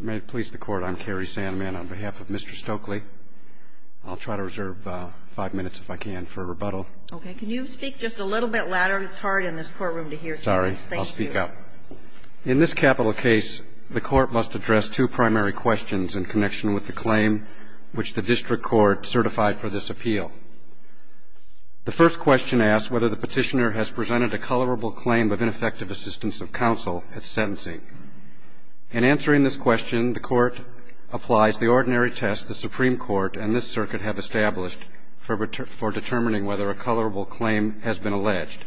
May it please the Court, I'm Kerry Sandman on behalf of Mr. Stokley. I'll try to reserve five minutes if I can for a rebuttal. Okay, can you speak just a little bit louder? It's hard in this courtroom to hear so much. Sorry, I'll speak up. In this capital case, the Court must address two primary questions in connection with the claim which the District Court certified for this appeal. The first question asks whether the petitioner has presented a colorable claim of ineffective assistance of counsel at sentencing. In answering this question, the Court applies the ordinary test the Supreme Court and this circuit have established for determining whether a colorable claim has been alleged,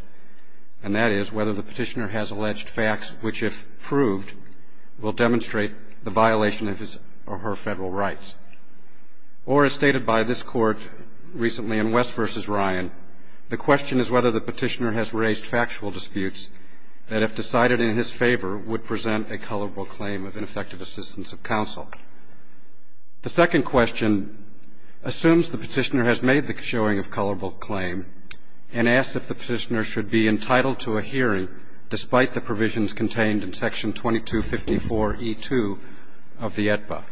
and that is whether the petitioner has alleged facts which, if proved, will demonstrate the violation of his or her federal rights. Or, as stated by this Court recently in West v. Ryan, the question is whether the petitioner has raised factual disputes that, if decided in his favor, would present a colorable claim of ineffective assistance of counsel. The second question assumes the petitioner has made the showing of colorable claim and asks if the petitioner should be entitled to a hearing despite the provisions contained in section 2254e2 of the AEDPA.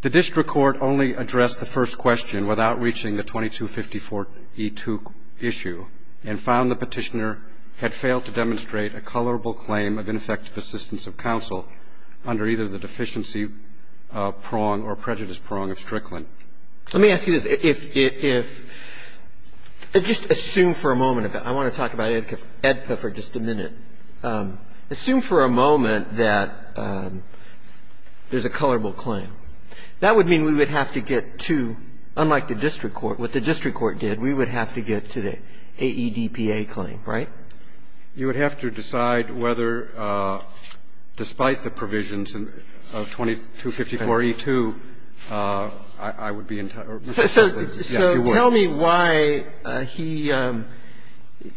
The District Court only addressed the first question without reaching the 2254e2 issue and found the petitioner had failed to demonstrate a colorable claim of ineffective assistance of counsel under either the deficiency prong or prejudice prong of Strickland. Let me ask you this. If, if, if, just assume for a moment. I want to talk about AEDPA for just a minute. Assume for a moment that there's a colorable claim. That would mean we would have to get to, unlike the District Court, what the District Court did, we would have to get to the AEDPA claim, right? You would have to decide whether, despite the provisions of 2254e2, I would be entitled to a hearing. Yes, you would. So tell me why he,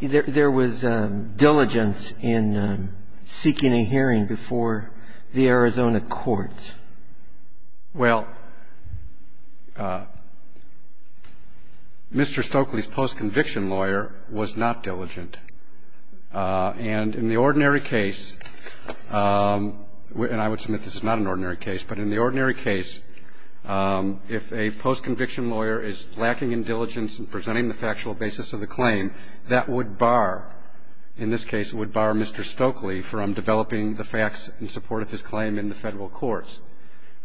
there was diligence in seeking a hearing before the Arizona courts. Well, Mr. Stokely's post-conviction lawyer was not diligent. And in the ordinary case, and I would submit this is not an ordinary case, but in the ordinary case, if a post-conviction lawyer is lacking in diligence in presenting the factual basis of the claim, that would bar, in this case, it would bar Mr. Stokely from developing the facts in support of his claim in the Federal courts.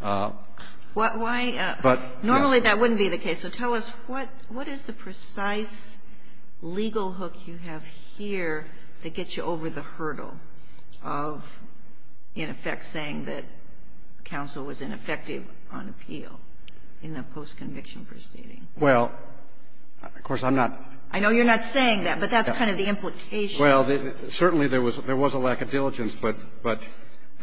Why, normally that wouldn't be the case. So tell us, what is the precise legal hook you have here that gets you over the hurdle of, in effect, saying that counsel was ineffective on appeal in the post-conviction proceeding? Well, of course, I'm not. I know you're not saying that, but that's kind of the implication. Well, certainly there was a lack of diligence, but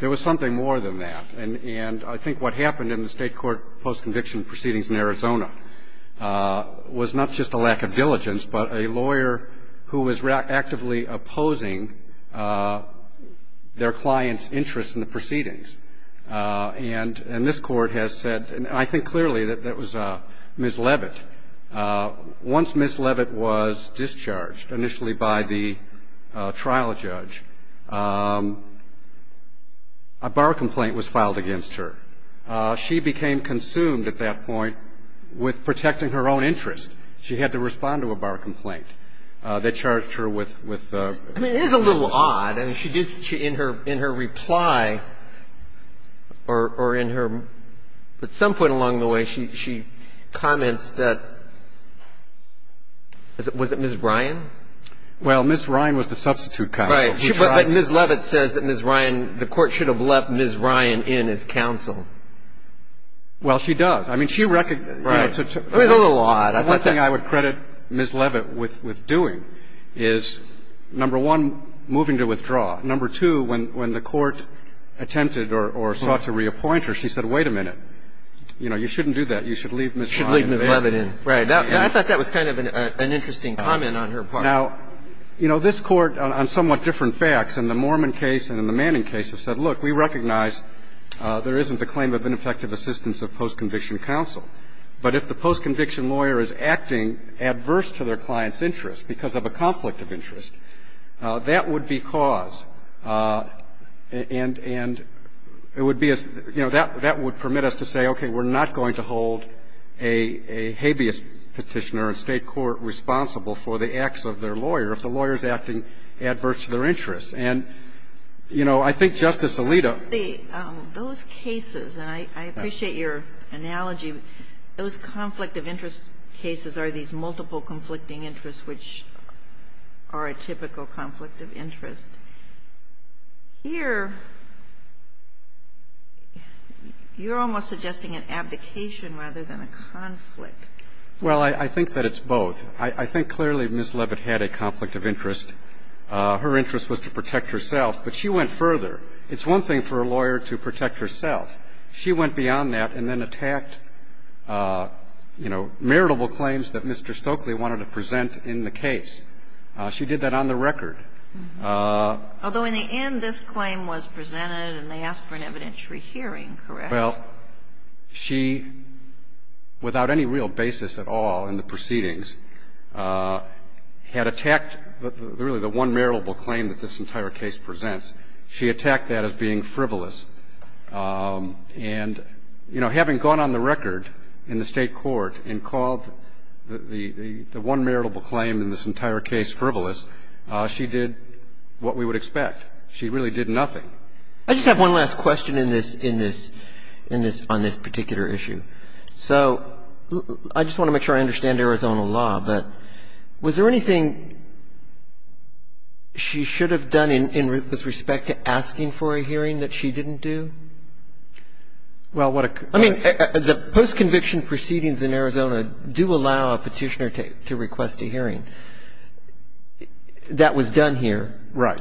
there was something more than that. And I think what happened in the State court post-conviction proceedings in Arizona was not just a lack of diligence, but a lawyer who was actively opposing their client's interests in the proceedings. And this Court has said, and I think clearly that that was Ms. Leavitt. Once Ms. Leavitt was discharged, initially by the trial judge, a bar complaint was filed against her. She became consumed at that point with protecting her own interest. She had to respond to a bar complaint. They charged her with the ---- I mean, it is a little odd. I mean, she did ---- in her reply or in her ---- but at some point along the way, she comments that ---- was it Ms. Ryan? Well, Ms. Ryan was the substitute counsel. But Ms. Leavitt says that Ms. Ryan ---- the Court should have left Ms. Ryan in as counsel. Well, she does. I mean, she ---- Right. It was a little odd. I thought that ---- One thing I would credit Ms. Leavitt with doing is, number one, moving to withdraw. Number two, when the Court attempted or sought to reappoint her, she said, wait a minute. You know, you shouldn't do that. You should leave Ms. Ryan there. You should leave Ms. Leavitt in. Right. I thought that was kind of an interesting comment on her part. Now, you know, this Court, on somewhat different facts, in the Mormon case and in the Manning case, has said, look, we recognize there isn't a claim of ineffective assistance of post-conviction counsel. But if the post-conviction lawyer is acting adverse to their client's interest because of a conflict of interest, that would be cause. And it would be a ---- you know, that would permit us to say, okay, we're not going to hold a habeas petitioner in State court responsible for the acts of their lawyer if the lawyer is acting adverse to their interest. And, you know, I think Justice Alito ---- Those cases, and I appreciate your analogy, those conflict of interest cases are these multiple conflicting interests which are a typical conflict of interest. Here, you're almost suggesting an abdication rather than a conflict. Well, I think that it's both. I think clearly Ms. Leavitt had a conflict of interest. Her interest was to protect herself, but she went further. It's one thing for a lawyer to protect herself. She went beyond that and then attacked, you know, maritable claims that Mr. Stokely wanted to present in the case. She did that on the record. Although in the end, this claim was presented and they asked for an evidentiary hearing, correct? Well, she, without any real basis at all in the proceedings, had attacked really the one maritable claim that this entire case presents. She attacked that as being frivolous. And, you know, having gone on the record in the State court and called the one maritable claim in this entire case frivolous, she did what we would expect. She really did nothing. I just have one last question on this particular issue. So I just want to make sure I understand Arizona law, but was there anything she should have done with respect to asking for a hearing that she didn't do? Well, what a question. I mean, the post-conviction proceedings in Arizona do allow a Petitioner to request a hearing. That was done here. Right.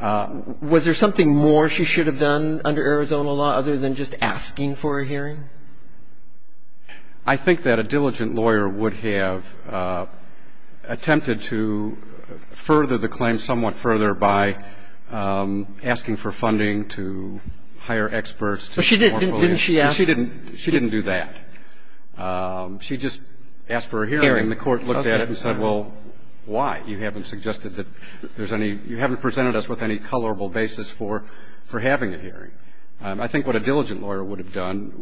Was there something more she should have done under Arizona law other than just asking for a hearing? I think that a diligent lawyer would have attempted to further the claim somewhat further by asking for funding to hire experts to do more. Didn't she ask? She didn't do that. She just asked for a hearing. And the Court looked at it and said, well, why? You haven't suggested that there's any you haven't presented us with any colorable basis for having a hearing. I think what a diligent lawyer would have done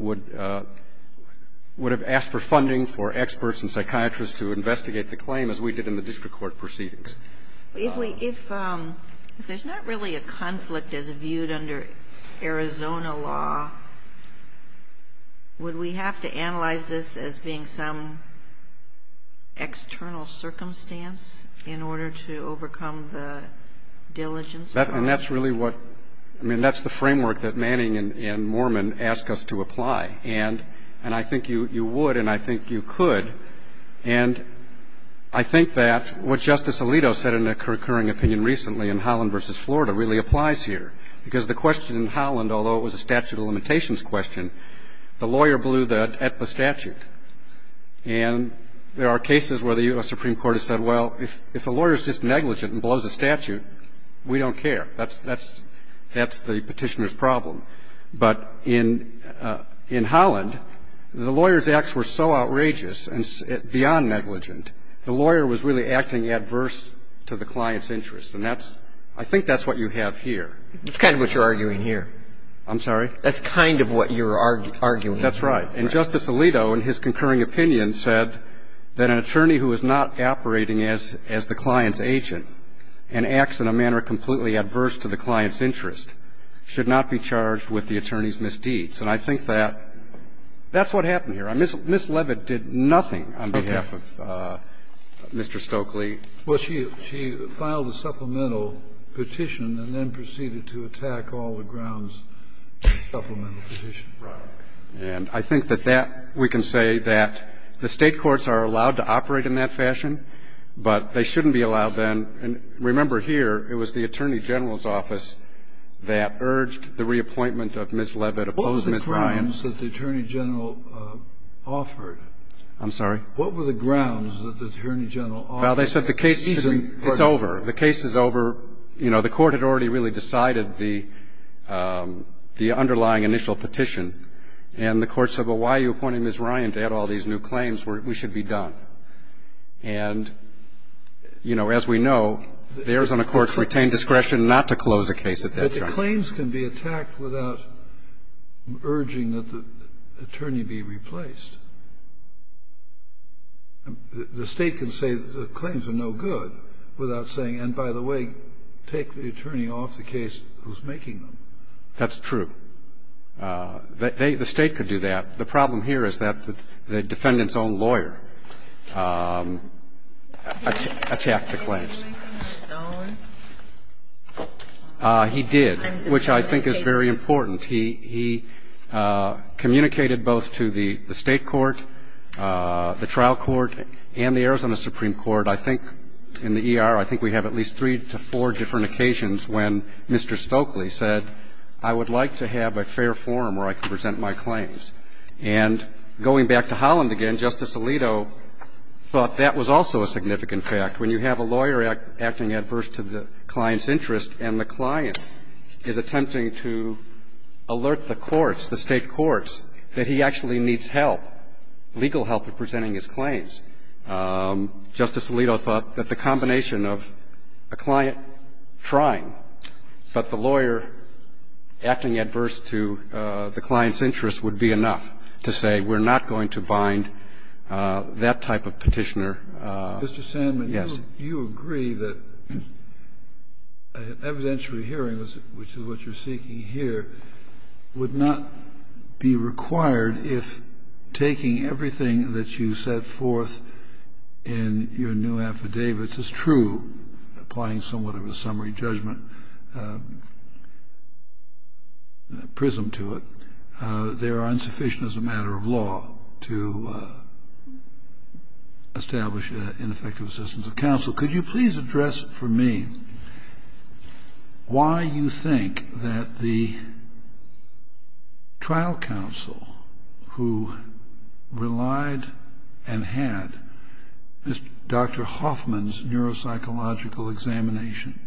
would have asked for funding for experts and psychiatrists to investigate the claim as we did in the district court proceedings. If there's not really a conflict as viewed under Arizona law, would we have to analyze this as being some external circumstance in order to overcome the diligence part? And that's really what I mean, that's the framework that Manning and Moorman ask us to apply. And I think you would and I think you could. And I think that what Justice Alito said in a recurring opinion recently in Holland v. Florida really applies here, because the question in Holland, although it was a statute of limitations question, the lawyer blew the statute. And there are cases where the U.S. Supreme Court has said, well, if the lawyer is just negligent and blows the statute, we don't care. That's the petitioner's problem. But in Holland, the lawyer's acts were so outrageous and beyond negligent, the lawyer was really acting adverse to the client's interest. And that's – I think that's what you have here. That's kind of what you're arguing here. I'm sorry? That's kind of what you're arguing here. That's right. And Justice Alito in his concurring opinion said that an attorney who is not operating as the client's agent and acts in a manner completely adverse to the client's interest should not be charged with the attorney's misdeeds. And I think that that's what happened here. Ms. Levitt did nothing on behalf of Mr. Stokely. Well, she filed a supplemental petition and then proceeded to attack all the grounds in the supplemental petition. Right. And I think that that we can say that the State courts are allowed to operate in that fashion, but they shouldn't be allowed then. And remember here, it was the Attorney General's office that urged the reappointment of Ms. Levitt opposed Ms. Ryan. What was the grounds that the Attorney General offered? I'm sorry? What were the grounds that the Attorney General offered? Well, they said the case should be – it's over. The case is over. You know, the Court had already really decided the underlying initial petition, and the Court said, well, why are you appointing Ms. Ryan to add all these new claims? We should be done. And, you know, as we know, the Arizona courts retained discretion not to close a case at that time. But the claims can be attacked without urging that the attorney be replaced. The State can say the claims are no good without saying, and by the way, take the attorney off the case who's making them. That's true. The State could do that. The problem here is that the defendant's own lawyer attacked the claims. He did, which I think is very important. He communicated both to the State court, the trial court, and the Arizona Supreme Court. I think in the E.R., I think we have at least three to four different occasions when Mr. Stokely said, I would like to have a fair forum where I can present my claims. And going back to Holland again, Justice Alito thought that was also a significant fact. When you have a lawyer acting adverse to the client's interest and the client is attempting to alert the courts, the State courts, that he actually needs help, legal help in presenting his claims. Justice Alito thought that the combination of a client trying, but the lawyer acting adverse to the client's interest would be enough to say, we're not going to bind that type of Petitioner. Yes. Kennedy. Mr. Sandman, you agree that evidentiary hearings, which is what you're seeking here, would not be required if taking everything that you set forth in your new affidavits is true, applying somewhat of a summary judgment prism to it. They are insufficient as a matter of law to establish ineffective assistance of counsel. So could you please address for me why you think that the trial counsel who relied and had Dr. Hoffman's neuropsychological examination,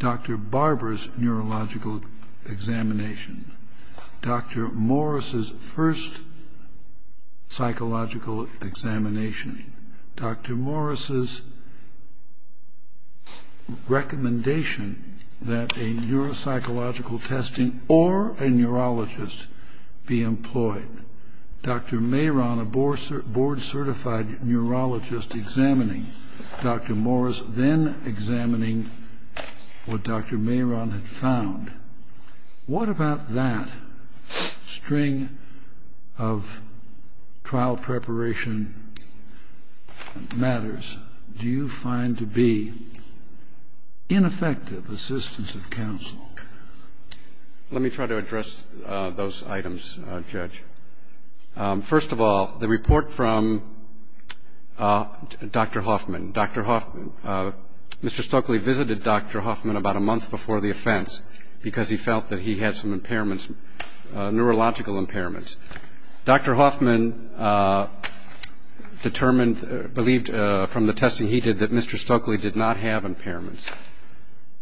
Dr. Barber's neurological examination, Dr. Morris's first psychological examination, Dr. Morris's recommendation that a neuropsychological testing or a neurologist be employed. Dr. Mehron, a board-certified neurologist, examining Dr. Morris, then examining what Dr. Mehron had found. What about that string of trial preparation matters? Do you find to be ineffective assistance of counsel? Let me try to address those items, Judge. First of all, the report from Dr. Hoffman. Dr. Hoffman. Mr. Stokely visited Dr. Hoffman about a month before the offense because he felt that he had some impairments, neurological impairments. Dr. Hoffman determined, believed from the testing he did that Mr. Stokely did not have impairments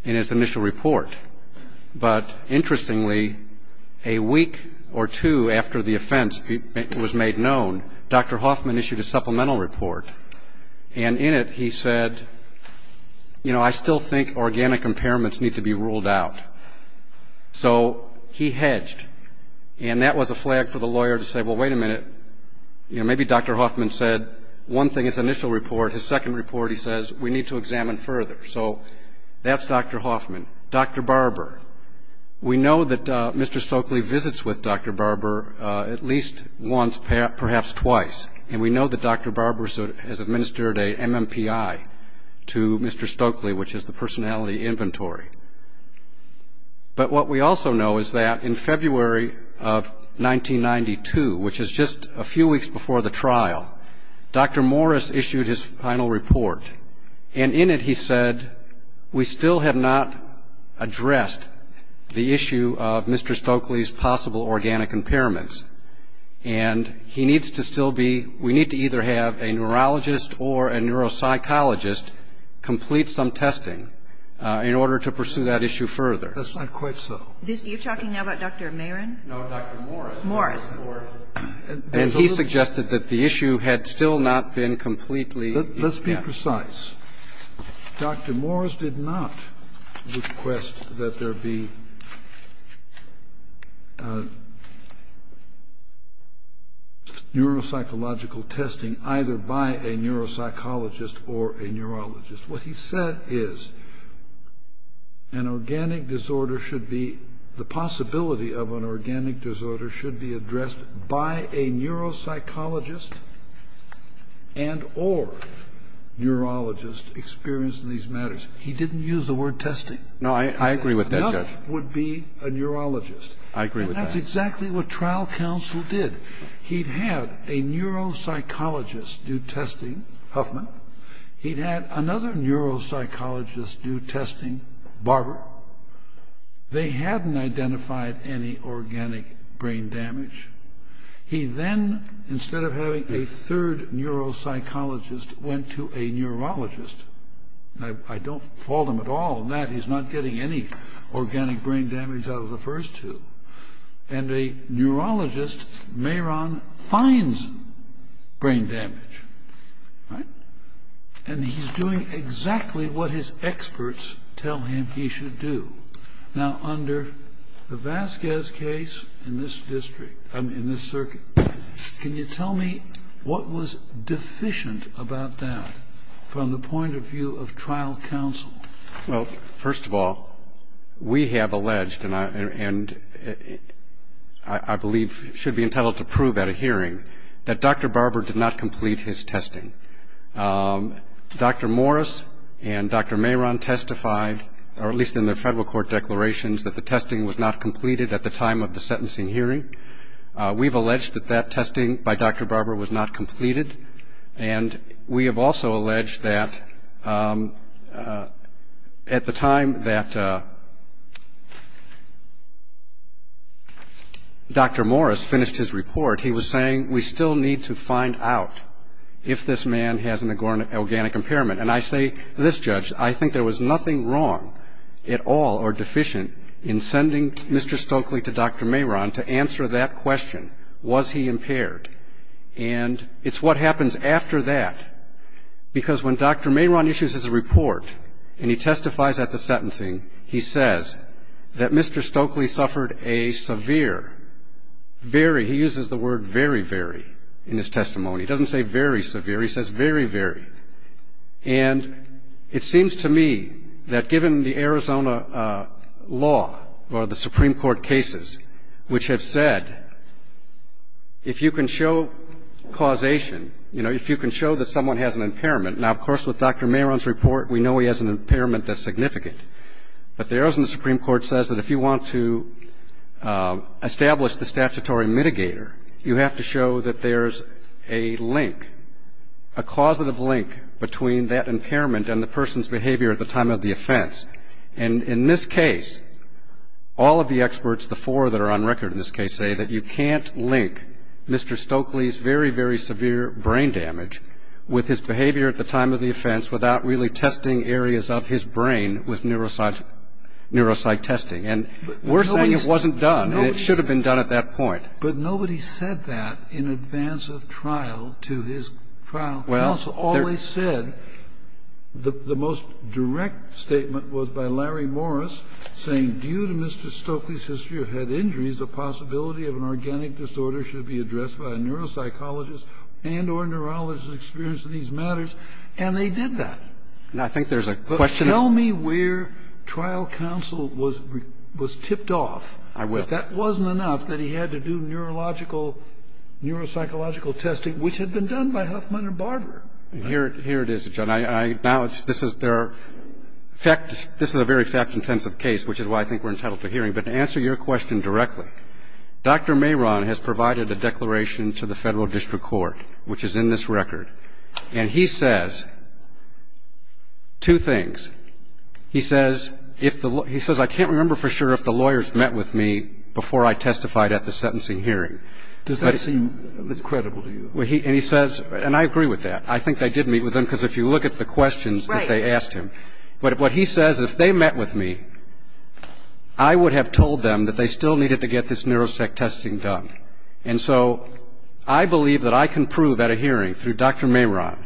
in his initial report. But interestingly, a week or two after the offense was made known, Dr. Hoffman issued a supplemental report. And in it he said, you know, I still think organic impairments need to be ruled out. So he hedged. And that was a flag for the lawyer to say, well, wait a minute, you know, maybe Dr. Hoffman said one thing in his initial report, his second report he says, we need to examine further. So that's Dr. Hoffman. Dr. Barber. We know that Mr. Stokely visits with Dr. Barber at least once, perhaps twice. And we know that Dr. Barber has administered a MMPI to Mr. Stokely, which is the personality inventory. But what we also know is that in February of 1992, which is just a few weeks before the trial, Dr. Morris issued his final report. And in it he said, we still have not addressed the issue of Mr. Stokely's possible organic impairments. And he needs to still be, we need to either have a neurologist or a neuropsychologist complete some testing in order to pursue that issue further. That's not quite so. You're talking now about Dr. Marin? No, Dr. Morris. Morris. And he suggested that the issue had still not been completely. Let's be precise. Dr. Morris did not request that there be neuropsychological testing either by a neuropsychologist or a neurologist. What he said is an organic disorder should be, the possibility of an organic disorder should be addressed by a neuropsychologist and or neurologist experienced in these matters. He didn't use the word testing. No, I agree with that, Judge. Another would be a neurologist. I agree with that. And that's exactly what trial counsel did. He had a neuropsychologist do testing, Huffman. He had another neuropsychologist do testing, Barber. They hadn't identified any organic brain damage. He then, instead of having a third neuropsychologist, went to a neurologist. I don't fault him at all in that. He's not getting any organic brain damage out of the first two. And a neurologist, Mehron, finds brain damage, right? And he's doing exactly what his experts tell him he should do. Now, under the Vasquez case in this district, I mean in this circuit, can you tell me what was deficient about that from the point of view of trial counsel? Well, first of all, we have alleged, and I believe should be entitled to prove at a hearing, that Dr. Barber did not complete his testing. Dr. Morris and Dr. Mehron testified, or at least in their federal court declarations, that the testing was not completed at the time of the sentencing hearing. We've alleged that that testing by Dr. Barber was not completed. And we have also alleged that at the time that Dr. Morris finished his report, he was saying, we still need to find out if this man has an organic impairment. And I say to this judge, I think there was nothing wrong at all or deficient in sending Mr. Stokely to Dr. Mehron to answer that question. Was he impaired? And it's what happens after that, because when Dr. Mehron issues his report and he testifies at the sentencing, he says that Mr. Stokely suffered a severe, very, he uses the word very, very in his testimony. He doesn't say very severe. He says very, very. And it seems to me that given the Arizona law or the Supreme Court cases, which have said if you can show causation, you know, if you can show that someone has an impairment, now, of course, with Dr. Mehron's report, we know he has an impairment that's significant. But the Arizona Supreme Court says that if you want to establish the statutory mitigator, you have to show that there's a link, a causative link between that impairment and the person's behavior at the time of the offense. And in this case, all of the experts, the four that are on record in this case, say that you can't link Mr. Stokely's very, very severe brain damage with his behavior at the time of the offense without really testing areas of his brain with neuropsych testing. And we're saying it wasn't done, and it should have been done at that point. But nobody said that in advance of trial to his trial counsel. Always said. The most direct statement was by Larry Morris, saying due to Mr. Stokely's history of head injuries, the possibility of an organic disorder should be addressed by a neuropsychologist and or neurologist experienced in these matters. And they did that. But tell me where trial counsel was tipped off. I will. That wasn't enough that he had to do neurological, neuropsychological testing, which had been done by Huffman and Barber. And here it is, John. I acknowledge this is a very fact-intensive case, which is why I think we're entitled to hearing. But to answer your question directly, Dr. Mehron has provided a declaration to the Federal District Court, which is in this record. And he says two things. He says if the law he says I can't remember for sure if the lawyers met with me before I testified at the sentencing hearing. Does that seem credible to you? And he says, and I agree with that. I think they did meet with him, because if you look at the questions that they asked him. Right. But what he says, if they met with me, I would have told them that they still needed to get this neuropsych testing done. And so I believe that I can prove at a hearing through Dr. Mehron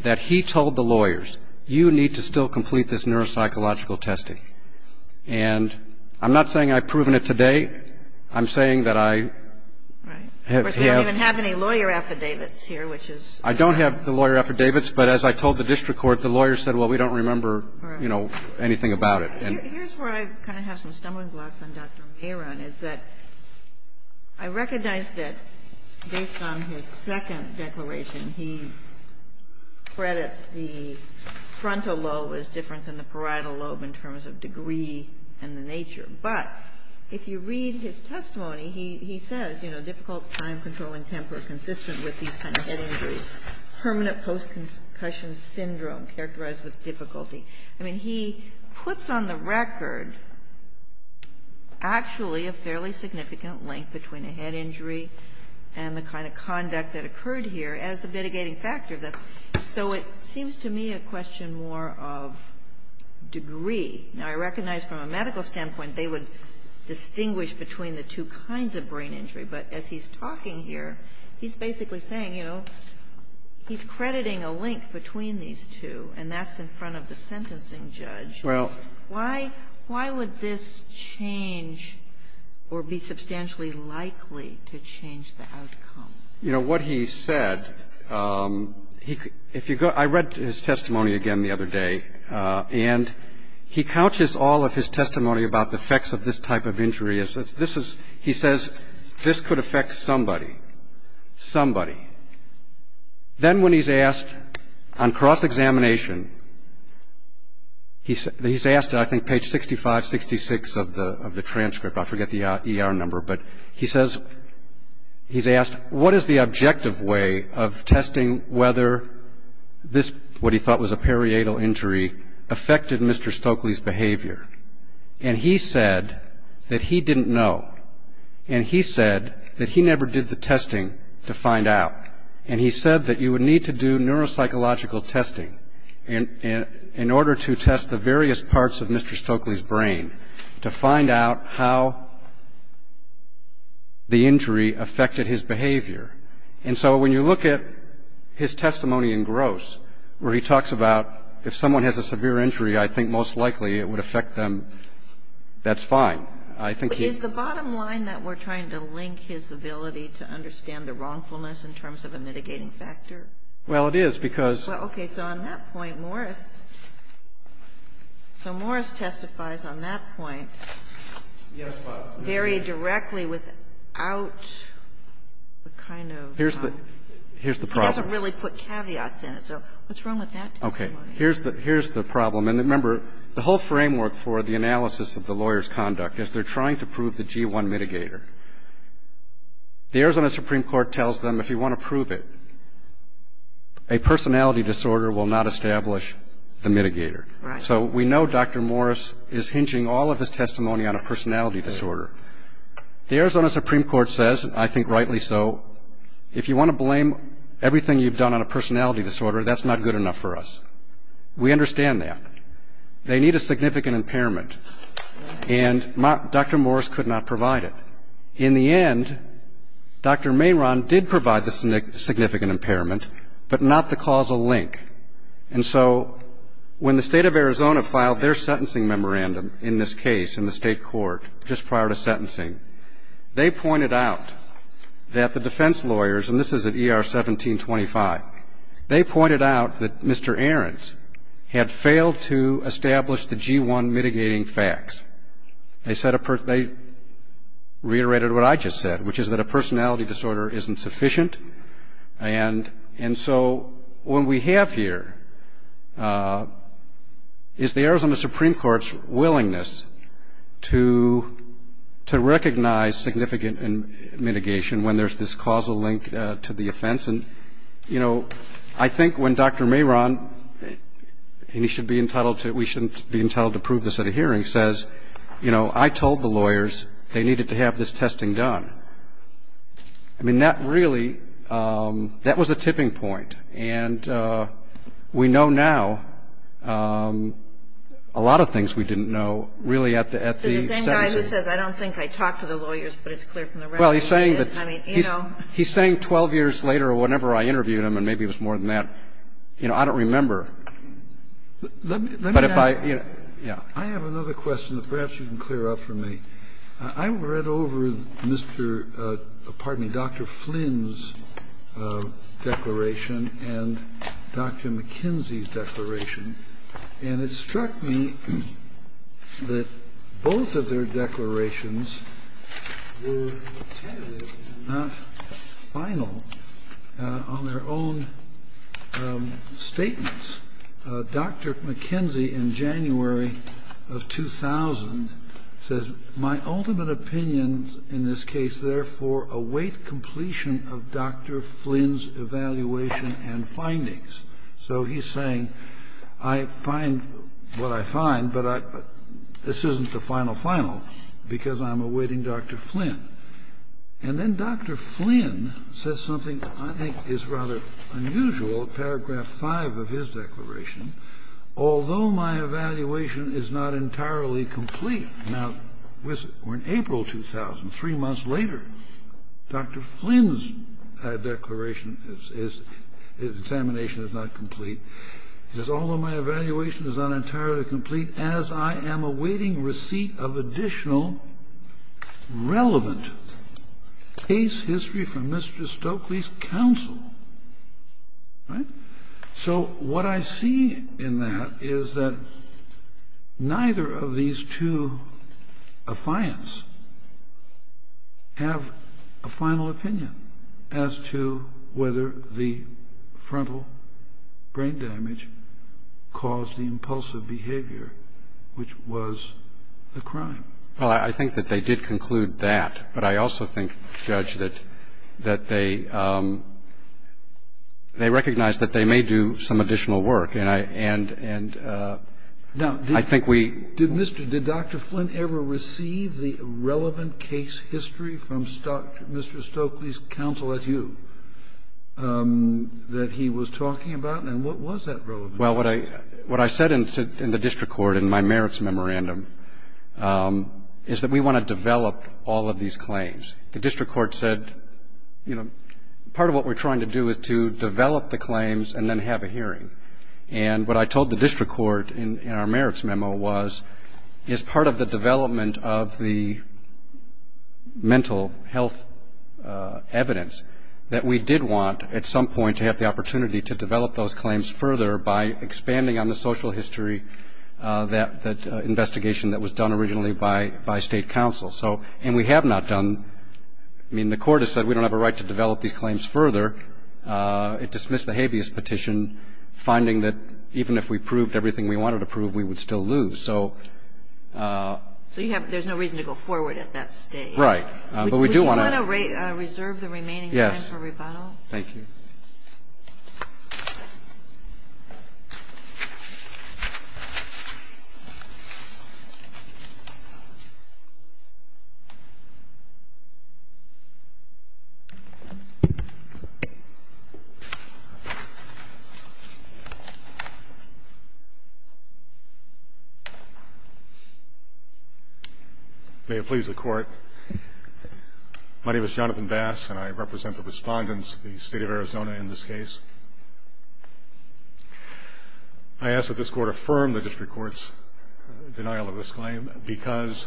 that he told the lawyers, you need to still complete this neuropsychological testing. And I'm not saying I've proven it today. I'm saying that I have. Right. Of course, we don't even have any lawyer affidavits here, which is. I don't have the lawyer affidavits. But as I told the district court, the lawyers said, well, we don't remember, you know, anything about it. Here's where I kind of have some stumbling blocks on Dr. Mehron, is that I recognize that based on his second declaration, he credits the frontal lobe as different than the parietal lobe in terms of degree and the nature. But if you read his testimony, he says, you know, difficult time-controlling temper, consistent with these kind of head injuries, permanent post-concussion syndrome characterized with difficulty. I mean, he puts on the record actually a fairly significant link between a head injury and the kind of conduct that occurred here as a mitigating factor. So it seems to me a question more of degree. Now, I recognize from a medical standpoint, they would distinguish between the two kinds of brain injury. But as he's talking here, he's basically saying, you know, he's crediting a link between these two, and that's in front of the sentencing judge. Well. Why would this change or be substantially likely to change the outcome? You know, what he said, if you go, I read his testimony again the other day, and he couches all of his testimony about the effects of this type of injury. He says, this could affect somebody, somebody. Then when he's asked on cross-examination, he's asked, I think, page 65, 66 of the transcript. I forget the ER number. But he says, he's asked, what is the objective way of testing whether this, what he thought was a periatal injury, affected Mr. Stokely's behavior? And he said that he didn't know. And he said that he never did the testing to find out. And he said that you would need to do neuropsychological testing in order to test the various parts of Mr. Stokely's brain to find out how the injury affected his behavior. And so when you look at his testimony in Gross, where he talks about, if someone has a severe injury, I think most likely it would affect them, that's fine. I think he's Is the bottom line that we're trying to link his ability to understand the wrongfulness in terms of a mitigating factor? Well, it is, because Okay. So on that point, Morris. So Morris testifies on that point very directly without the kind of Here's the problem. He doesn't really put caveats in it. So what's wrong with that? Okay. Here's the problem. And remember, the whole framework for the analysis of the lawyer's conduct is they're trying to prove the G1 mitigator. The Arizona Supreme Court tells them if you want to prove it, a personality disorder will not establish the mitigator. So we know Dr. Morris is hinging all of his testimony on a personality disorder. The Arizona Supreme Court says, I think rightly so, if you want to blame everything you've done on a personality disorder, that's not good enough for us. We understand that. They need a significant impairment. And Dr. Morris could not provide it. In the end, Dr. Mehron did provide the significant impairment, but not the causal link. And so when the State of Arizona filed their sentencing memorandum in this case in the state court just prior to sentencing, they pointed out that the defense lawyers, and this is at ER 1725, they pointed out that Mr. Ahrens had failed to establish the G1 mitigating facts. They reiterated what I just said, which is that a personality disorder isn't sufficient. And so what we have here is the Arizona Supreme Court's willingness to recognize significant mitigation when there's this causal link to the offense. And, you know, I think when Dr. Mehron, and he should be entitled to it, we shouldn't be entitled to prove this at a hearing, says, you know, I told the lawyers they needed to have this testing done, I mean, that really, that was a tipping point. And we know now a lot of things we didn't know really at the sentencing. The same guy who says I don't think I talked to the lawyers, but it's clear from the record. He's saying 12 years later or whenever I interviewed him, and maybe it was more than that, you know, I don't remember. But if I, you know, yeah. I have another question that perhaps you can clear up for me. I read over Mr. ---- pardon me, Dr. Flynn's declaration and Dr. McKenzie's And it struck me that both of their declarations were not final on their own statements. Dr. McKenzie in January of 2000 says, my ultimate opinions in this case, therefore, await completion of Dr. Flynn's evaluation and findings. So he's saying I find what I find, but this isn't the final, final, because I'm awaiting Dr. Flynn. And then Dr. Flynn says something I think is rather unusual, paragraph 5 of his declaration. Although my evaluation is not entirely complete. Now, in April 2000, three months later, Dr. Flynn's declaration is, his examination is not complete, he says, although my evaluation is not entirely complete as I am awaiting receipt of additional relevant case history from Mr. Stokely's counsel. Right? So what I see in that is that neither of these two affiants have a final opinion as to whether the frontal brain damage caused the impulsive behavior, which was the crime. Well, I think that they did conclude that. But I also think, Judge, that they recognized that they may do some additional work. And I think we do. Did Dr. Flynn ever receive the relevant case history from Mr. Stokely's counsel as you, that he was talking about? And what was that relevant case history? Well, what I said in the district court in my merits memorandum is that we want to develop all of these claims. The district court said, you know, part of what we're trying to do is to develop the claims and then have a hearing. And what I told the district court in our merits memo was, as part of the development of the mental health evidence, that we did want at some point to have the opportunity to develop those claims further by expanding on the social history, that investigation that was done originally by state counsel. So, and we have not done. I mean, the Court has said we don't have a right to develop these claims further. It dismissed the habeas petition, finding that even if we proved everything we wanted to prove, we would still lose. So you have to go forward at that stage. Right. But we do want to reserve the remaining time for rebuttal. Yes. Thank you. May it please the Court. My name is Jonathan Bass, and I represent the Respondents of the State of Arizona in this case. I ask that this Court affirm the district court's denial of this claim, because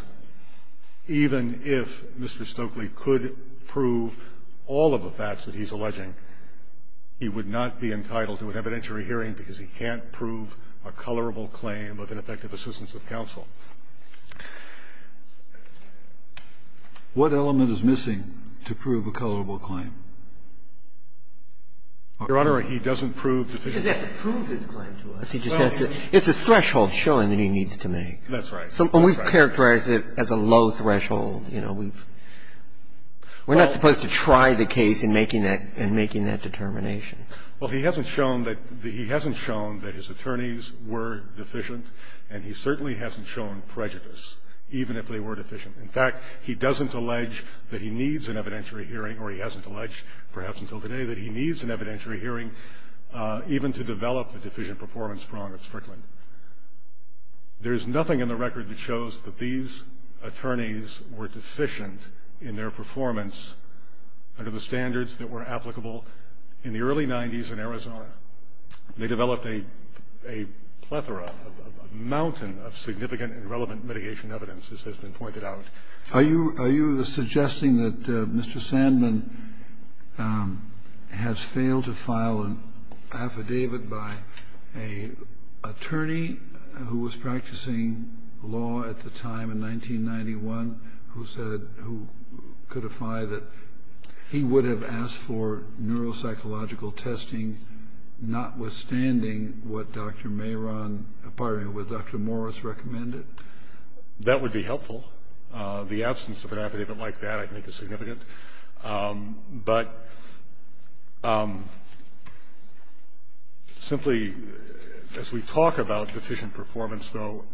even if Mr. Stokely could prove all of the facts that he's alleging, he would not be entitled to an evidentiary hearing because he can't prove a colorable claim of ineffective assistance of counsel. What element is missing to prove a colorable claim? Your Honor, he doesn't prove deficient. He doesn't have to prove his claim to us. He just has to. It's a threshold showing that he needs to make. That's right. And we've characterized it as a low threshold, you know. We're not supposed to try the case in making that determination. Well, he hasn't shown that his attorneys were deficient, and he certainly hasn't shown prejudice, even if they were deficient. In fact, he doesn't allege that he needs an evidentiary hearing, or he hasn't alleged perhaps until today that he needs an evidentiary hearing, even to develop the deficient performance prong of Strickland. There's nothing in the record that shows that these attorneys were deficient in their performance under the standards that were applicable in the early 90s in Arizona. They developed a plethora, a mountain of significant and relevant mitigation evidence, as has been pointed out. Are you suggesting that Mr. Sandman has failed to file an affidavit by an attorney who was practicing law at the time in 1991, who said he would have asked for neuropsychological testing, notwithstanding what Dr. Mehron, pardon me, what Dr. Morris recommended? That would be helpful. The absence of an affidavit like that, I think, is significant. But simply, as we talk about deficient performance, though,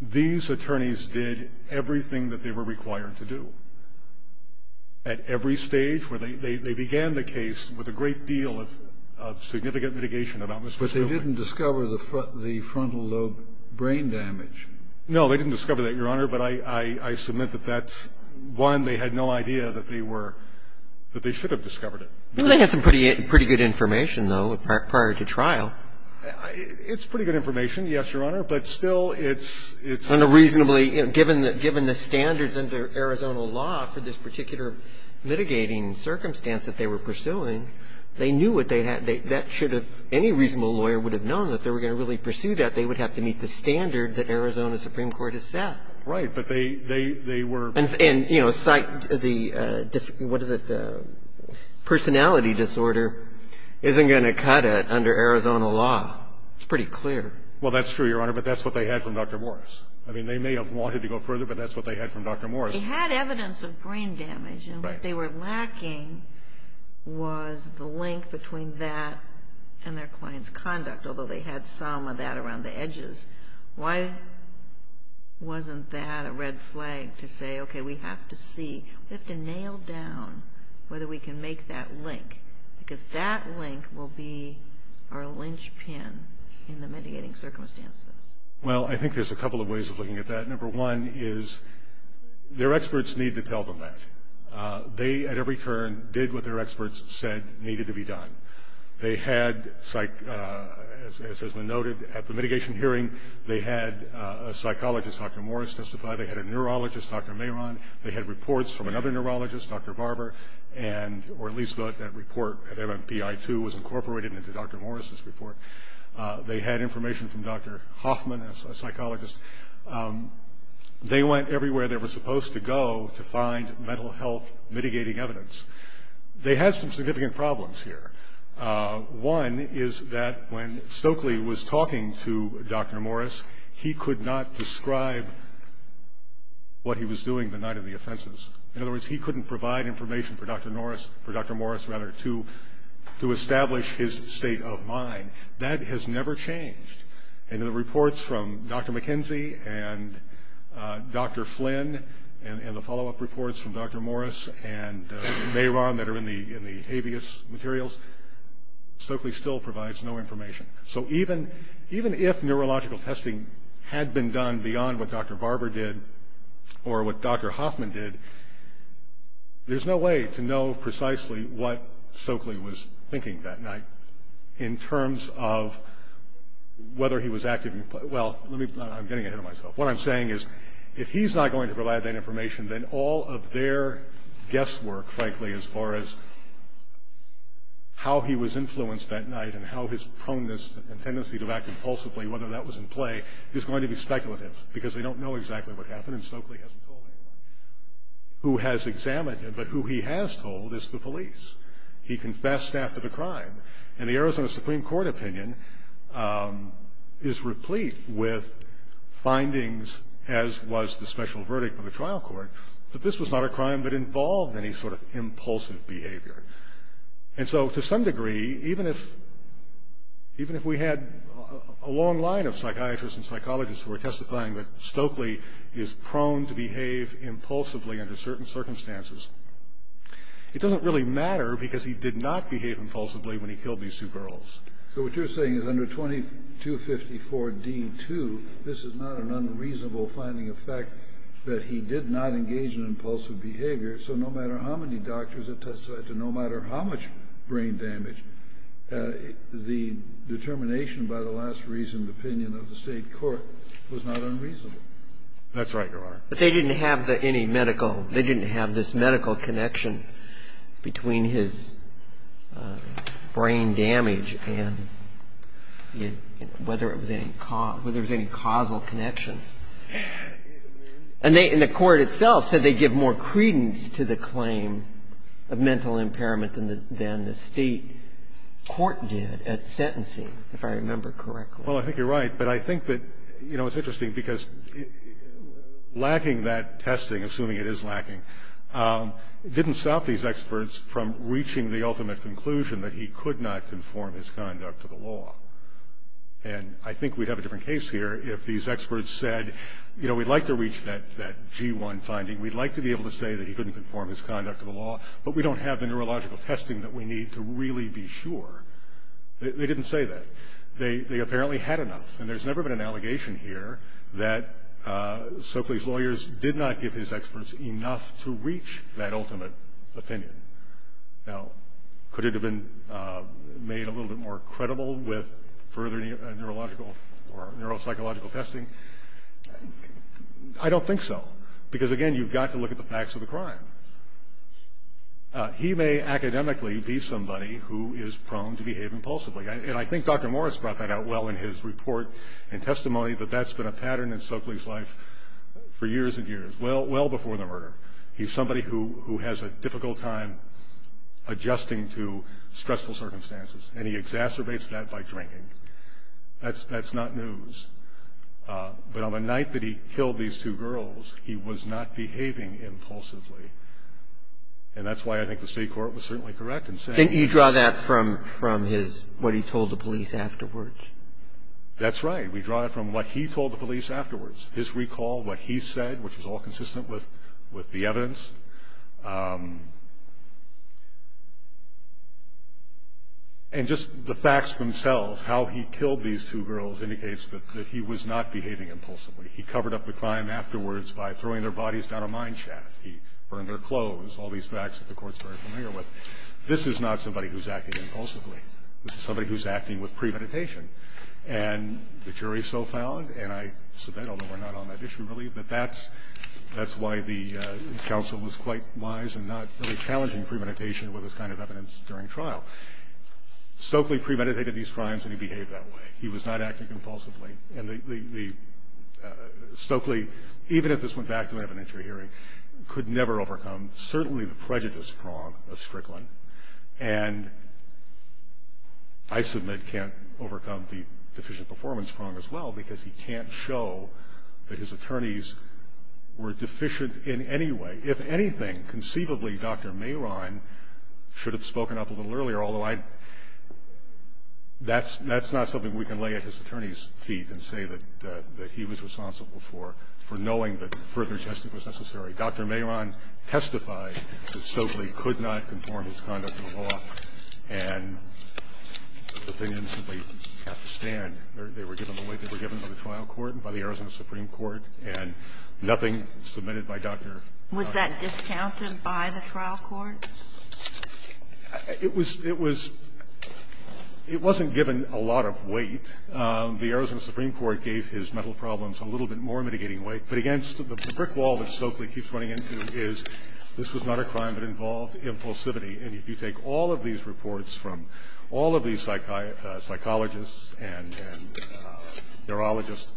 these attorneys did everything that they were required to do. At every stage where they began the case with a great deal of significant mitigation about Mr. Sandman. But they didn't discover the frontal lobe brain damage. No, they didn't discover that, Your Honor. But I submit that that's, one, they had no idea that they were, that they should have discovered it. Well, they had some pretty good information, though, prior to trial. It's pretty good information, yes, Your Honor. But still, it's unreasonably. Given the standards under Arizona law for this particular mitigating circumstance that they were pursuing, they knew what they had. That should have, any reasonable lawyer would have known that if they were going to really pursue that, they would have to meet the standard that Arizona Supreme Court has set. Right. But they were. And, you know, cite the, what is it, the personality disorder isn't going to cut it under Arizona law. It's pretty clear. Well, that's true, Your Honor. But that's what they had from Dr. Morris. I mean, they may have wanted to go further, but that's what they had from Dr. Morris. They had evidence of brain damage. Right. And what they were lacking was the link between that and their client's conduct, although they had some of that around the edges. Why wasn't that a red flag to say, okay, we have to see, we have to nail down whether we can make that link? Because that link will be our linchpin in the mitigating circumstances. Well, I think there's a couple of ways of looking at that. Number one is their experts need to tell them that. They, at every turn, did what their experts said needed to be done. They had, as has been noted, at the mitigation hearing, they had a psychologist, Dr. Morris, testify. They had a neurologist, Dr. Mehron. They had reports from another neurologist, Dr. Barber, and, or at least that report at MMPI-2 was incorporated into Dr. Morris's report. They had information from Dr. Hoffman, a psychologist. They went everywhere they were supposed to go to find mental health mitigating evidence. They had some significant problems here. One is that when Stokely was talking to Dr. Morris, he could not describe what he was doing the night of the offenses. In other words, he couldn't provide information for Dr. Morris to establish his state of mind. That has never changed. And the reports from Dr. McKenzie and Dr. Flynn and the follow-up reports from Dr. Morris and Mehron that are in the habeas materials, Stokely still provides no information. So even if neurological testing had been done beyond what Dr. Barber did or what Dr. Hoffman did, there's no way to know precisely what Stokely was thinking that night in terms of whether he was actively, well, let me, I'm getting ahead of myself. What I'm saying is if he's not going to provide that information, then all of their guesswork, frankly, as far as how he was influenced that night and how his proneness and tendency to act impulsively, whether that was in play, is going to be speculative because they don't know exactly what happened and Stokely hasn't told anyone who has examined him. But who he has told is the police. He confessed after the crime. And the Arizona Supreme Court opinion is replete with findings, as was the special verdict from the trial court, that this was not a crime that involved any sort of impulsive behavior. And so to some degree, even if we had a long line of psychiatrists and psychologists who were testifying that Stokely is prone to behave impulsively under certain circumstances, it doesn't really matter because he did not behave impulsively when he killed these two girls. So what you're saying is under 2254d-2, this is not an unreasonable finding of fact that he did not engage in impulsive behavior, so no matter how many doctors have testified to no matter how much brain damage, the determination by the last reasoned opinion of the state court was not unreasonable. That's right, Your Honor. But they didn't have any medical. They didn't have this medical connection between his brain damage and whether there was any causal connection. And they, in the court itself, said they give more credence to the claim of mental impairment than the state court did at sentencing, if I remember correctly. Well, I think you're right. But I think that, you know, it's interesting because lacking that testing, assuming it is lacking, didn't stop these experts from reaching the ultimate conclusion that he could not conform his conduct to the law. And I think we'd have a different case here if these experts said, you know, we'd like to reach that G1 finding. We'd like to be able to say that he couldn't conform his conduct to the law, but we don't have the neurological testing that we need to really be sure. They didn't say that. They apparently had enough. And there's never been an allegation here that Soakley's lawyers did not give his experts enough to reach that ultimate opinion. Now, could it have been made a little bit more credible with further neurological or neuropsychological testing? I don't think so. Because, again, you've got to look at the facts of the crime. He may academically be somebody who is prone to behave impulsively. And I think Dr. Morris brought that out well in his report and testimony that that's been a pattern in Soakley's life for years and years, well before the murder. He's somebody who has a difficult time adjusting to stressful circumstances, and he exacerbates that by drinking. That's not news. But on the night that he killed these two girls, he was not behaving impulsively. And that's why I think the state court was certainly correct in saying that. Can you draw that from what he told the police afterwards? That's right. We draw it from what he told the police afterwards, his recall, what he said, which is all consistent with the evidence. And just the facts themselves, how he killed these two girls, indicates that he was not behaving impulsively. He covered up the crime afterwards by throwing their bodies down a mine shaft. He burned their clothes, all these facts that the court's very familiar with. This is not somebody who's acting impulsively. This is somebody who's acting with premeditation. And the jury so found, and I submit, although we're not on that issue really, that that's why the counsel was quite wise in not really challenging premeditation with this kind of evidence during trial. Stokely premeditated these crimes, and he behaved that way. He was not acting impulsively. And Stokely, even if this went back to an evidentiary hearing, could never overcome certainly the prejudice prong of Strickland. And I submit can't overcome the deficient performance prong as well because he can't show that his attorneys were deficient in any way. If anything, conceivably, Dr. Mehron should have spoken up a little earlier, although I'd – that's not something we can lay at his attorney's feet and say that he was responsible for, for knowing that further testing was necessary. Dr. Mehron testified that Stokely could not conform his conduct to the law, and the trial court and by the Arizona Supreme Court, and nothing submitted by Dr. Mehron. Was that discounted by the trial court? It was – it was – it wasn't given a lot of weight. The Arizona Supreme Court gave his mental problems a little bit more mitigating weight, but again, the brick wall that Stokely keeps running into is this was not a crime that involved impulsivity. And if you take all of these reports from all of these psychologists and neurologists,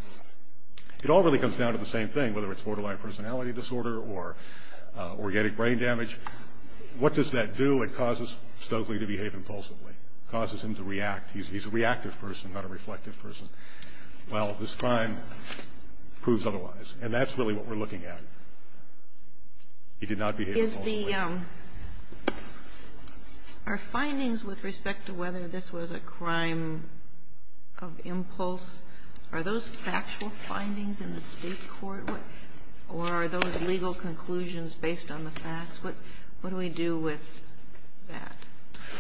it all really comes down to the same thing, whether it's borderline personality disorder or organic brain damage. What does that do? It causes Stokely to behave impulsively. It causes him to react. He's a reactive person, not a reflective person. Well, this crime proves otherwise, and that's really what we're looking at. He did not behave impulsively. Is the – are findings with respect to whether this was a crime of impulse, are those factual findings in the State court, or are those legal conclusions based on the facts? What do we do with that?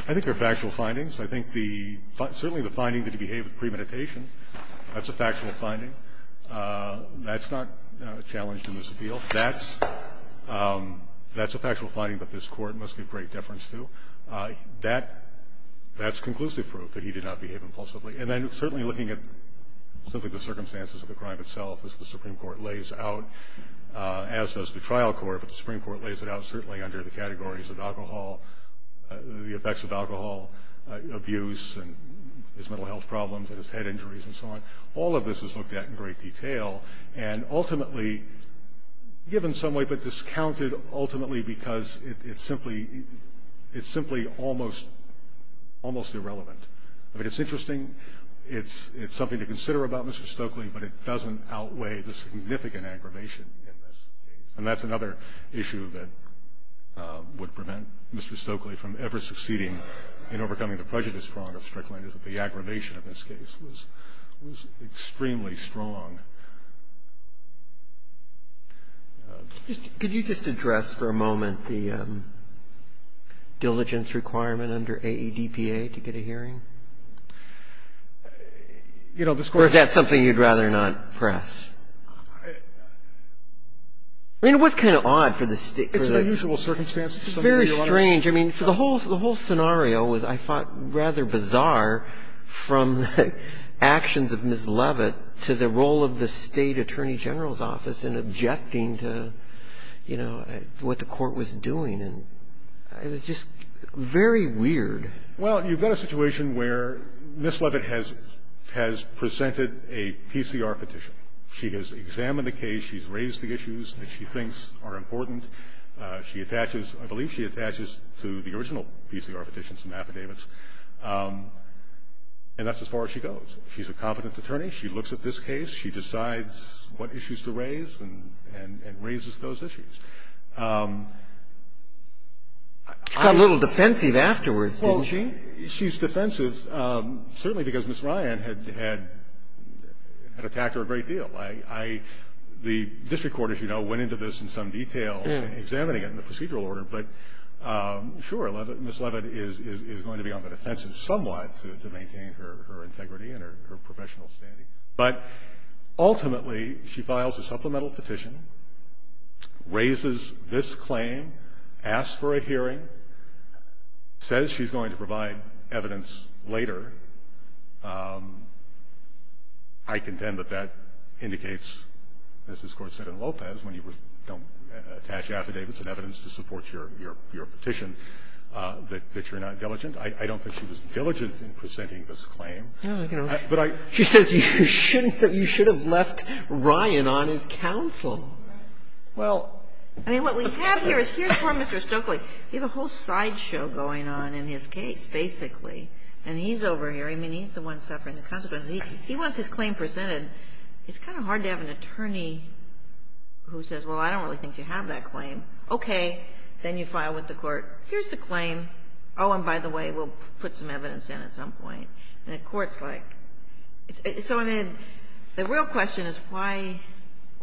I think they're factual findings. I think the – certainly the finding that he behaved with premeditation, that's a factual finding. That's not a challenge to this appeal. That's a factual finding that this Court must give great deference to. That's conclusive proof that he did not behave impulsively. And then certainly looking at simply the circumstances of the crime itself, as the Supreme Court lays out, as does the trial court. But the Supreme Court lays it out certainly under the categories of alcohol, the effects of alcohol abuse and his mental health problems and his head injuries and so on. All of this is looked at in great detail and ultimately, given some way, but discounted ultimately because it's simply – it's simply almost – almost irrelevant. I mean, it's interesting. It's – it's something to consider about Mr. Stokely, but it doesn't outweigh the significant aggravation in this case. And that's another issue that would prevent Mr. Stokely from ever succeeding in overcoming the prejudice prong of Strickland, is that the aggravation of this case was – was extremely strong. Just – could you just address for a moment the diligence requirement under AEDPA to get a hearing? You know, this Court – Or is that something you'd rather not press? I mean, it was kind of odd for the – for the – It's an unusual circumstance. It's very strange. I mean, for the whole – the whole scenario was, I thought, rather bizarre, from the actions of Ms. Leavitt to the role of the State Attorney General's office in objecting to, you know, what the Court was doing. And it was just very weird. Well, you've got a situation where Ms. Leavitt has – has presented a PCR petition. She has examined the case. She's raised the issues that she thinks are important. She attaches – I believe she attaches to the original PCR petitions and affidavits. And that's as far as she goes. She's a confident attorney. She looks at this case. She decides what issues to raise and raises those issues. She got a little defensive afterwards, didn't she? Well, she's defensive, certainly because Ms. Ryan had attacked her a great deal. The district court, as you know, went into this in some detail, examining it in the procedural order. But sure, Ms. Leavitt is going to be on the defensive somewhat to maintain her integrity and her professional standing. But ultimately, she files a supplemental petition, raises this claim, asks for a hearing, says she's going to provide evidence later. I contend that that indicates, as this Court said in Lopez, when you don't attach affidavits and evidence to support your – your petition, that you're not diligent. I don't think she was diligent in presenting this claim. But I – She says you shouldn't have – you should have left Ryan on as counsel. Well – I mean, what we have here is here's poor Mr. Stokely. You have a whole sideshow going on in his case, basically. And he's over here. I mean, he's the one suffering the consequences. He wants his claim presented. It's kind of hard to have an attorney who says, well, I don't really think you have that claim. Okay. Then you file with the Court. Here's the claim. Oh, and by the way, we'll put some evidence in at some point. And the Court's like – so, I mean, the real question is why –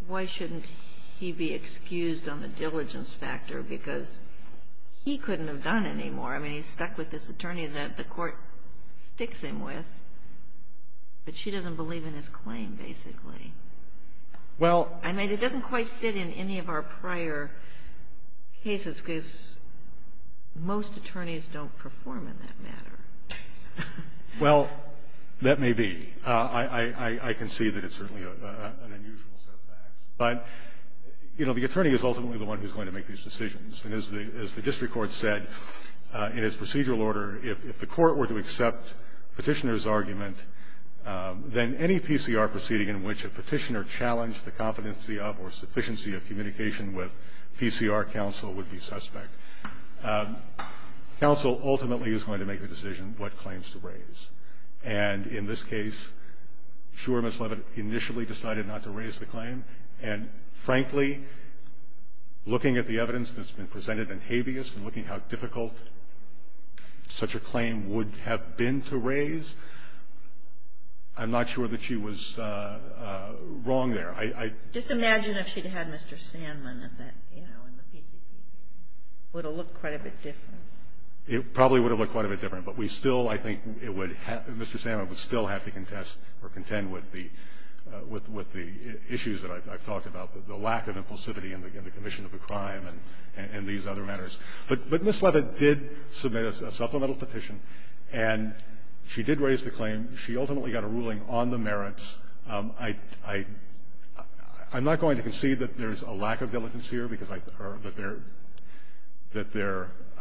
why shouldn't he be excused on the diligence factor? Because he couldn't have done any more. I mean, he's stuck with this attorney that the Court sticks him with, but she doesn't believe in his claim, basically. Well – I mean, it doesn't quite fit in any of our prior cases, because most attorneys don't perform in that manner. Well, that may be. I can see that it's certainly an unusual set of facts. But, you know, the attorney is ultimately the one who's going to make these decisions. And as the district court said in its procedural order, if the Court were to accept Petitioner's argument, then any PCR proceeding in which a Petitioner challenged the competency of or sufficiency of communication with PCR counsel would be suspect. Counsel ultimately is going to make the decision what claims to raise. And in this case, sure, Ms. Leavitt initially decided not to raise the claim. And, frankly, looking at the evidence that's been presented in habeas and looking how difficult such a claim would have been to raise, I'm not sure that she was wrong there. I – I – Just imagine if she'd had Mr. Sandman at that, you know, in the PCPC. It would have looked quite a bit different. It probably would have looked quite a bit different. But we still, I think, it would have – Mr. Sandman would still have to contest or contend with the – with the issues that I've talked about, the lack of impulsivity in the commission of a crime and these other matters. But Ms. Leavitt did submit a supplemental petition, and she did raise the claim. She ultimately got a ruling on the merits. I'm not going to concede that there's a lack of diligence here because I – or that there – that there –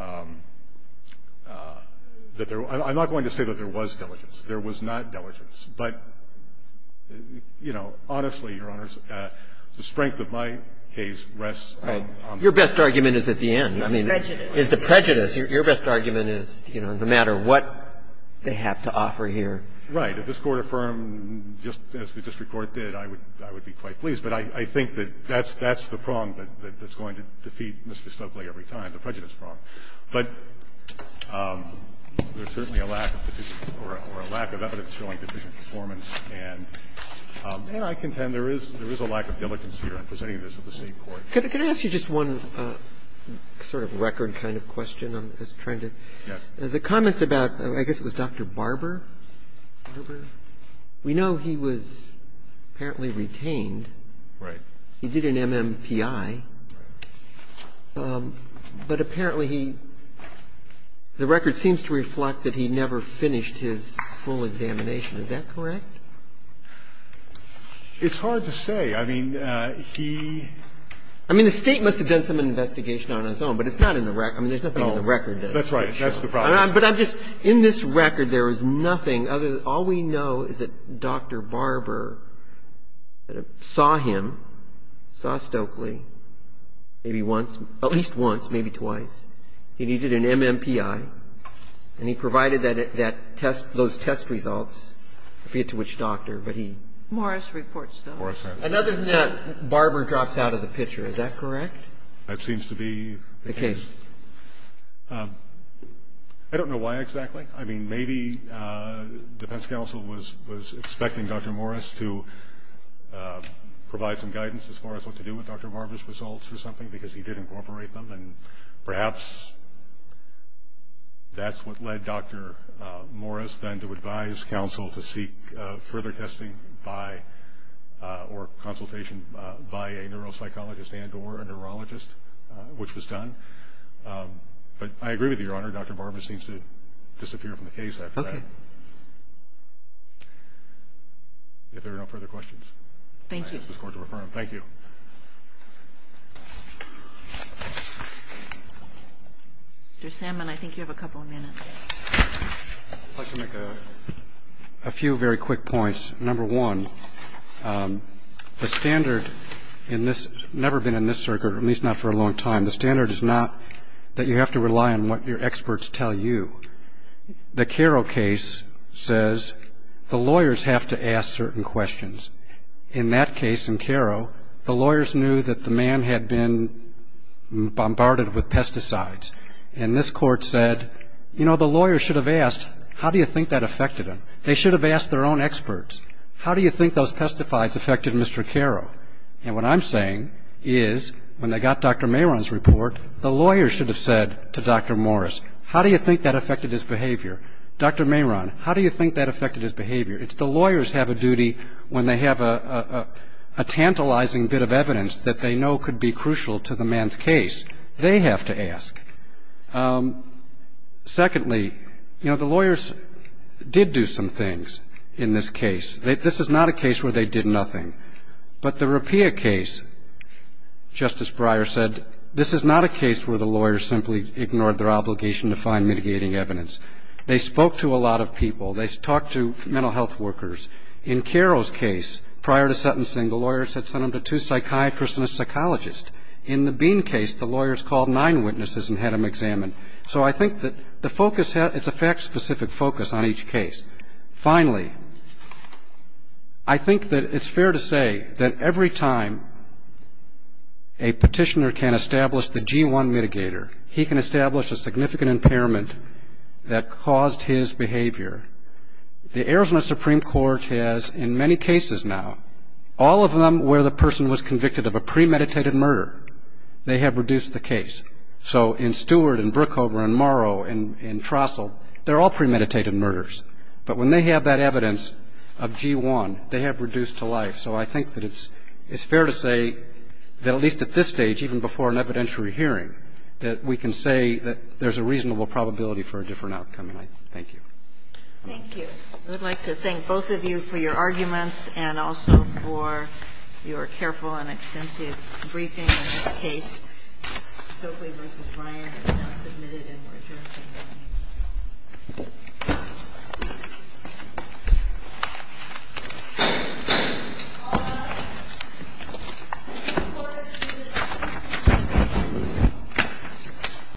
that there – I'm not going to say that there was diligence. There was not diligence. But, you know, honestly, Your Honors, the strength of my case rests on the fact that the – Right. Your best argument is at the end. I mean, it's the prejudice. Your best argument is, you know, no matter what they have to offer here. Right. If this Court affirmed just as the district court did, I would be quite pleased. But I think that that's the prong that's going to defeat Mr. Stubbley every time, the prejudice prong. But there's certainly a lack of – or a lack of evidence showing deficient performance, and I contend there is a lack of diligence here. I'm presenting this at the State court. Can I ask you just one sort of record kind of question? Yes. The comments about, I guess it was Dr. Barber? Barber? We know he was apparently retained. Right. He did an MMPI. Right. But apparently he – the record seems to reflect that he never finished his full examination. Is that correct? It's hard to say. I mean, he – I mean, the State must have done some investigation on its own, but it's not in the record. I mean, there's nothing in the record that – That's right. That's the problem. But I'm just – in this record, there is nothing other than – all we know is that Dr. Barber saw him, saw Stokely, maybe once – at least once, maybe twice. He needed an MMPI, and he provided that test – those test results. I forget to which doctor, but he – Morris reports, though. Morris reports. Other than that, Barber drops out of the picture. Is that correct? That seems to be the case. I don't know why exactly. I mean, maybe defense counsel was expecting Dr. Morris to provide some guidance as far as what to do with Dr. Barber's results or something, because he did incorporate them. And perhaps that's what led Dr. Morris then to advise counsel to seek further testing by – or consultation by a neuropsychologist and or a neurologist, which was done. But I agree with you, Your Honor. I'm not sure this is the case. I'm not sure where Dr. Barber seems to disappear from the case after that. Okay. If there are no further questions, I ask this Court to refer them. Thank you. Mr. Salmon, I think you have a couple of minutes. I'd like to make a few very quick points. Number one, the standard in this, never been in this circuit, at least not for a long time, the standard is not that you have to rely on what your experts tell you. The Caro case says the lawyers have to ask certain questions. In that case, in Caro, the lawyers knew that the man had been bombarded with pesticides, and this Court said, you know, the lawyer should have asked, how do you think that affected him? They should have asked their own experts. How do you think those pesticides affected Mr. Caro? And what I'm saying is when they got Dr. Mehron's report, the lawyers should have said to Dr. Morris, how do you think that affected his behavior? Dr. Mehron, how do you think that affected his behavior? It's the lawyers have a duty when they have a tantalizing bit of evidence that they know could be crucial to the man's case. They have to ask. Secondly, you know, the lawyers did do some things in this case. This is not a case where they did nothing. But the Rapilla case, Justice Breyer said, this is not a case where the lawyers simply ignored their obligation to find mitigating evidence. They spoke to a lot of people. They talked to mental health workers. In Caro's case, prior to sentencing, the lawyers had sent him to two psychiatrists and a psychologist. In the Bean case, the lawyers called nine witnesses and had him examined. So I think that the focus, it's a fact-specific focus on each case. Finally, I think that it's fair to say that every time a petitioner can establish the G1 mitigator, he can establish a significant impairment that caused his behavior. The Arizona Supreme Court has, in many cases now, all of them where the person was convicted of a premeditated murder, they have reduced the case. So in Stewart and Brookhover and Morrow and Trostle, they're all premeditated murders. But when they have that evidence of G1, they have reduced to life. So I think that it's fair to say that at least at this stage, even before an evidentiary hearing, that we can say that there's a reasonable probability for a different outcome. And I thank you. Thank you. I would like to thank both of you for your arguments and also for your careful and extensive briefing on this case. Stokely v. Ryan has now submitted an order.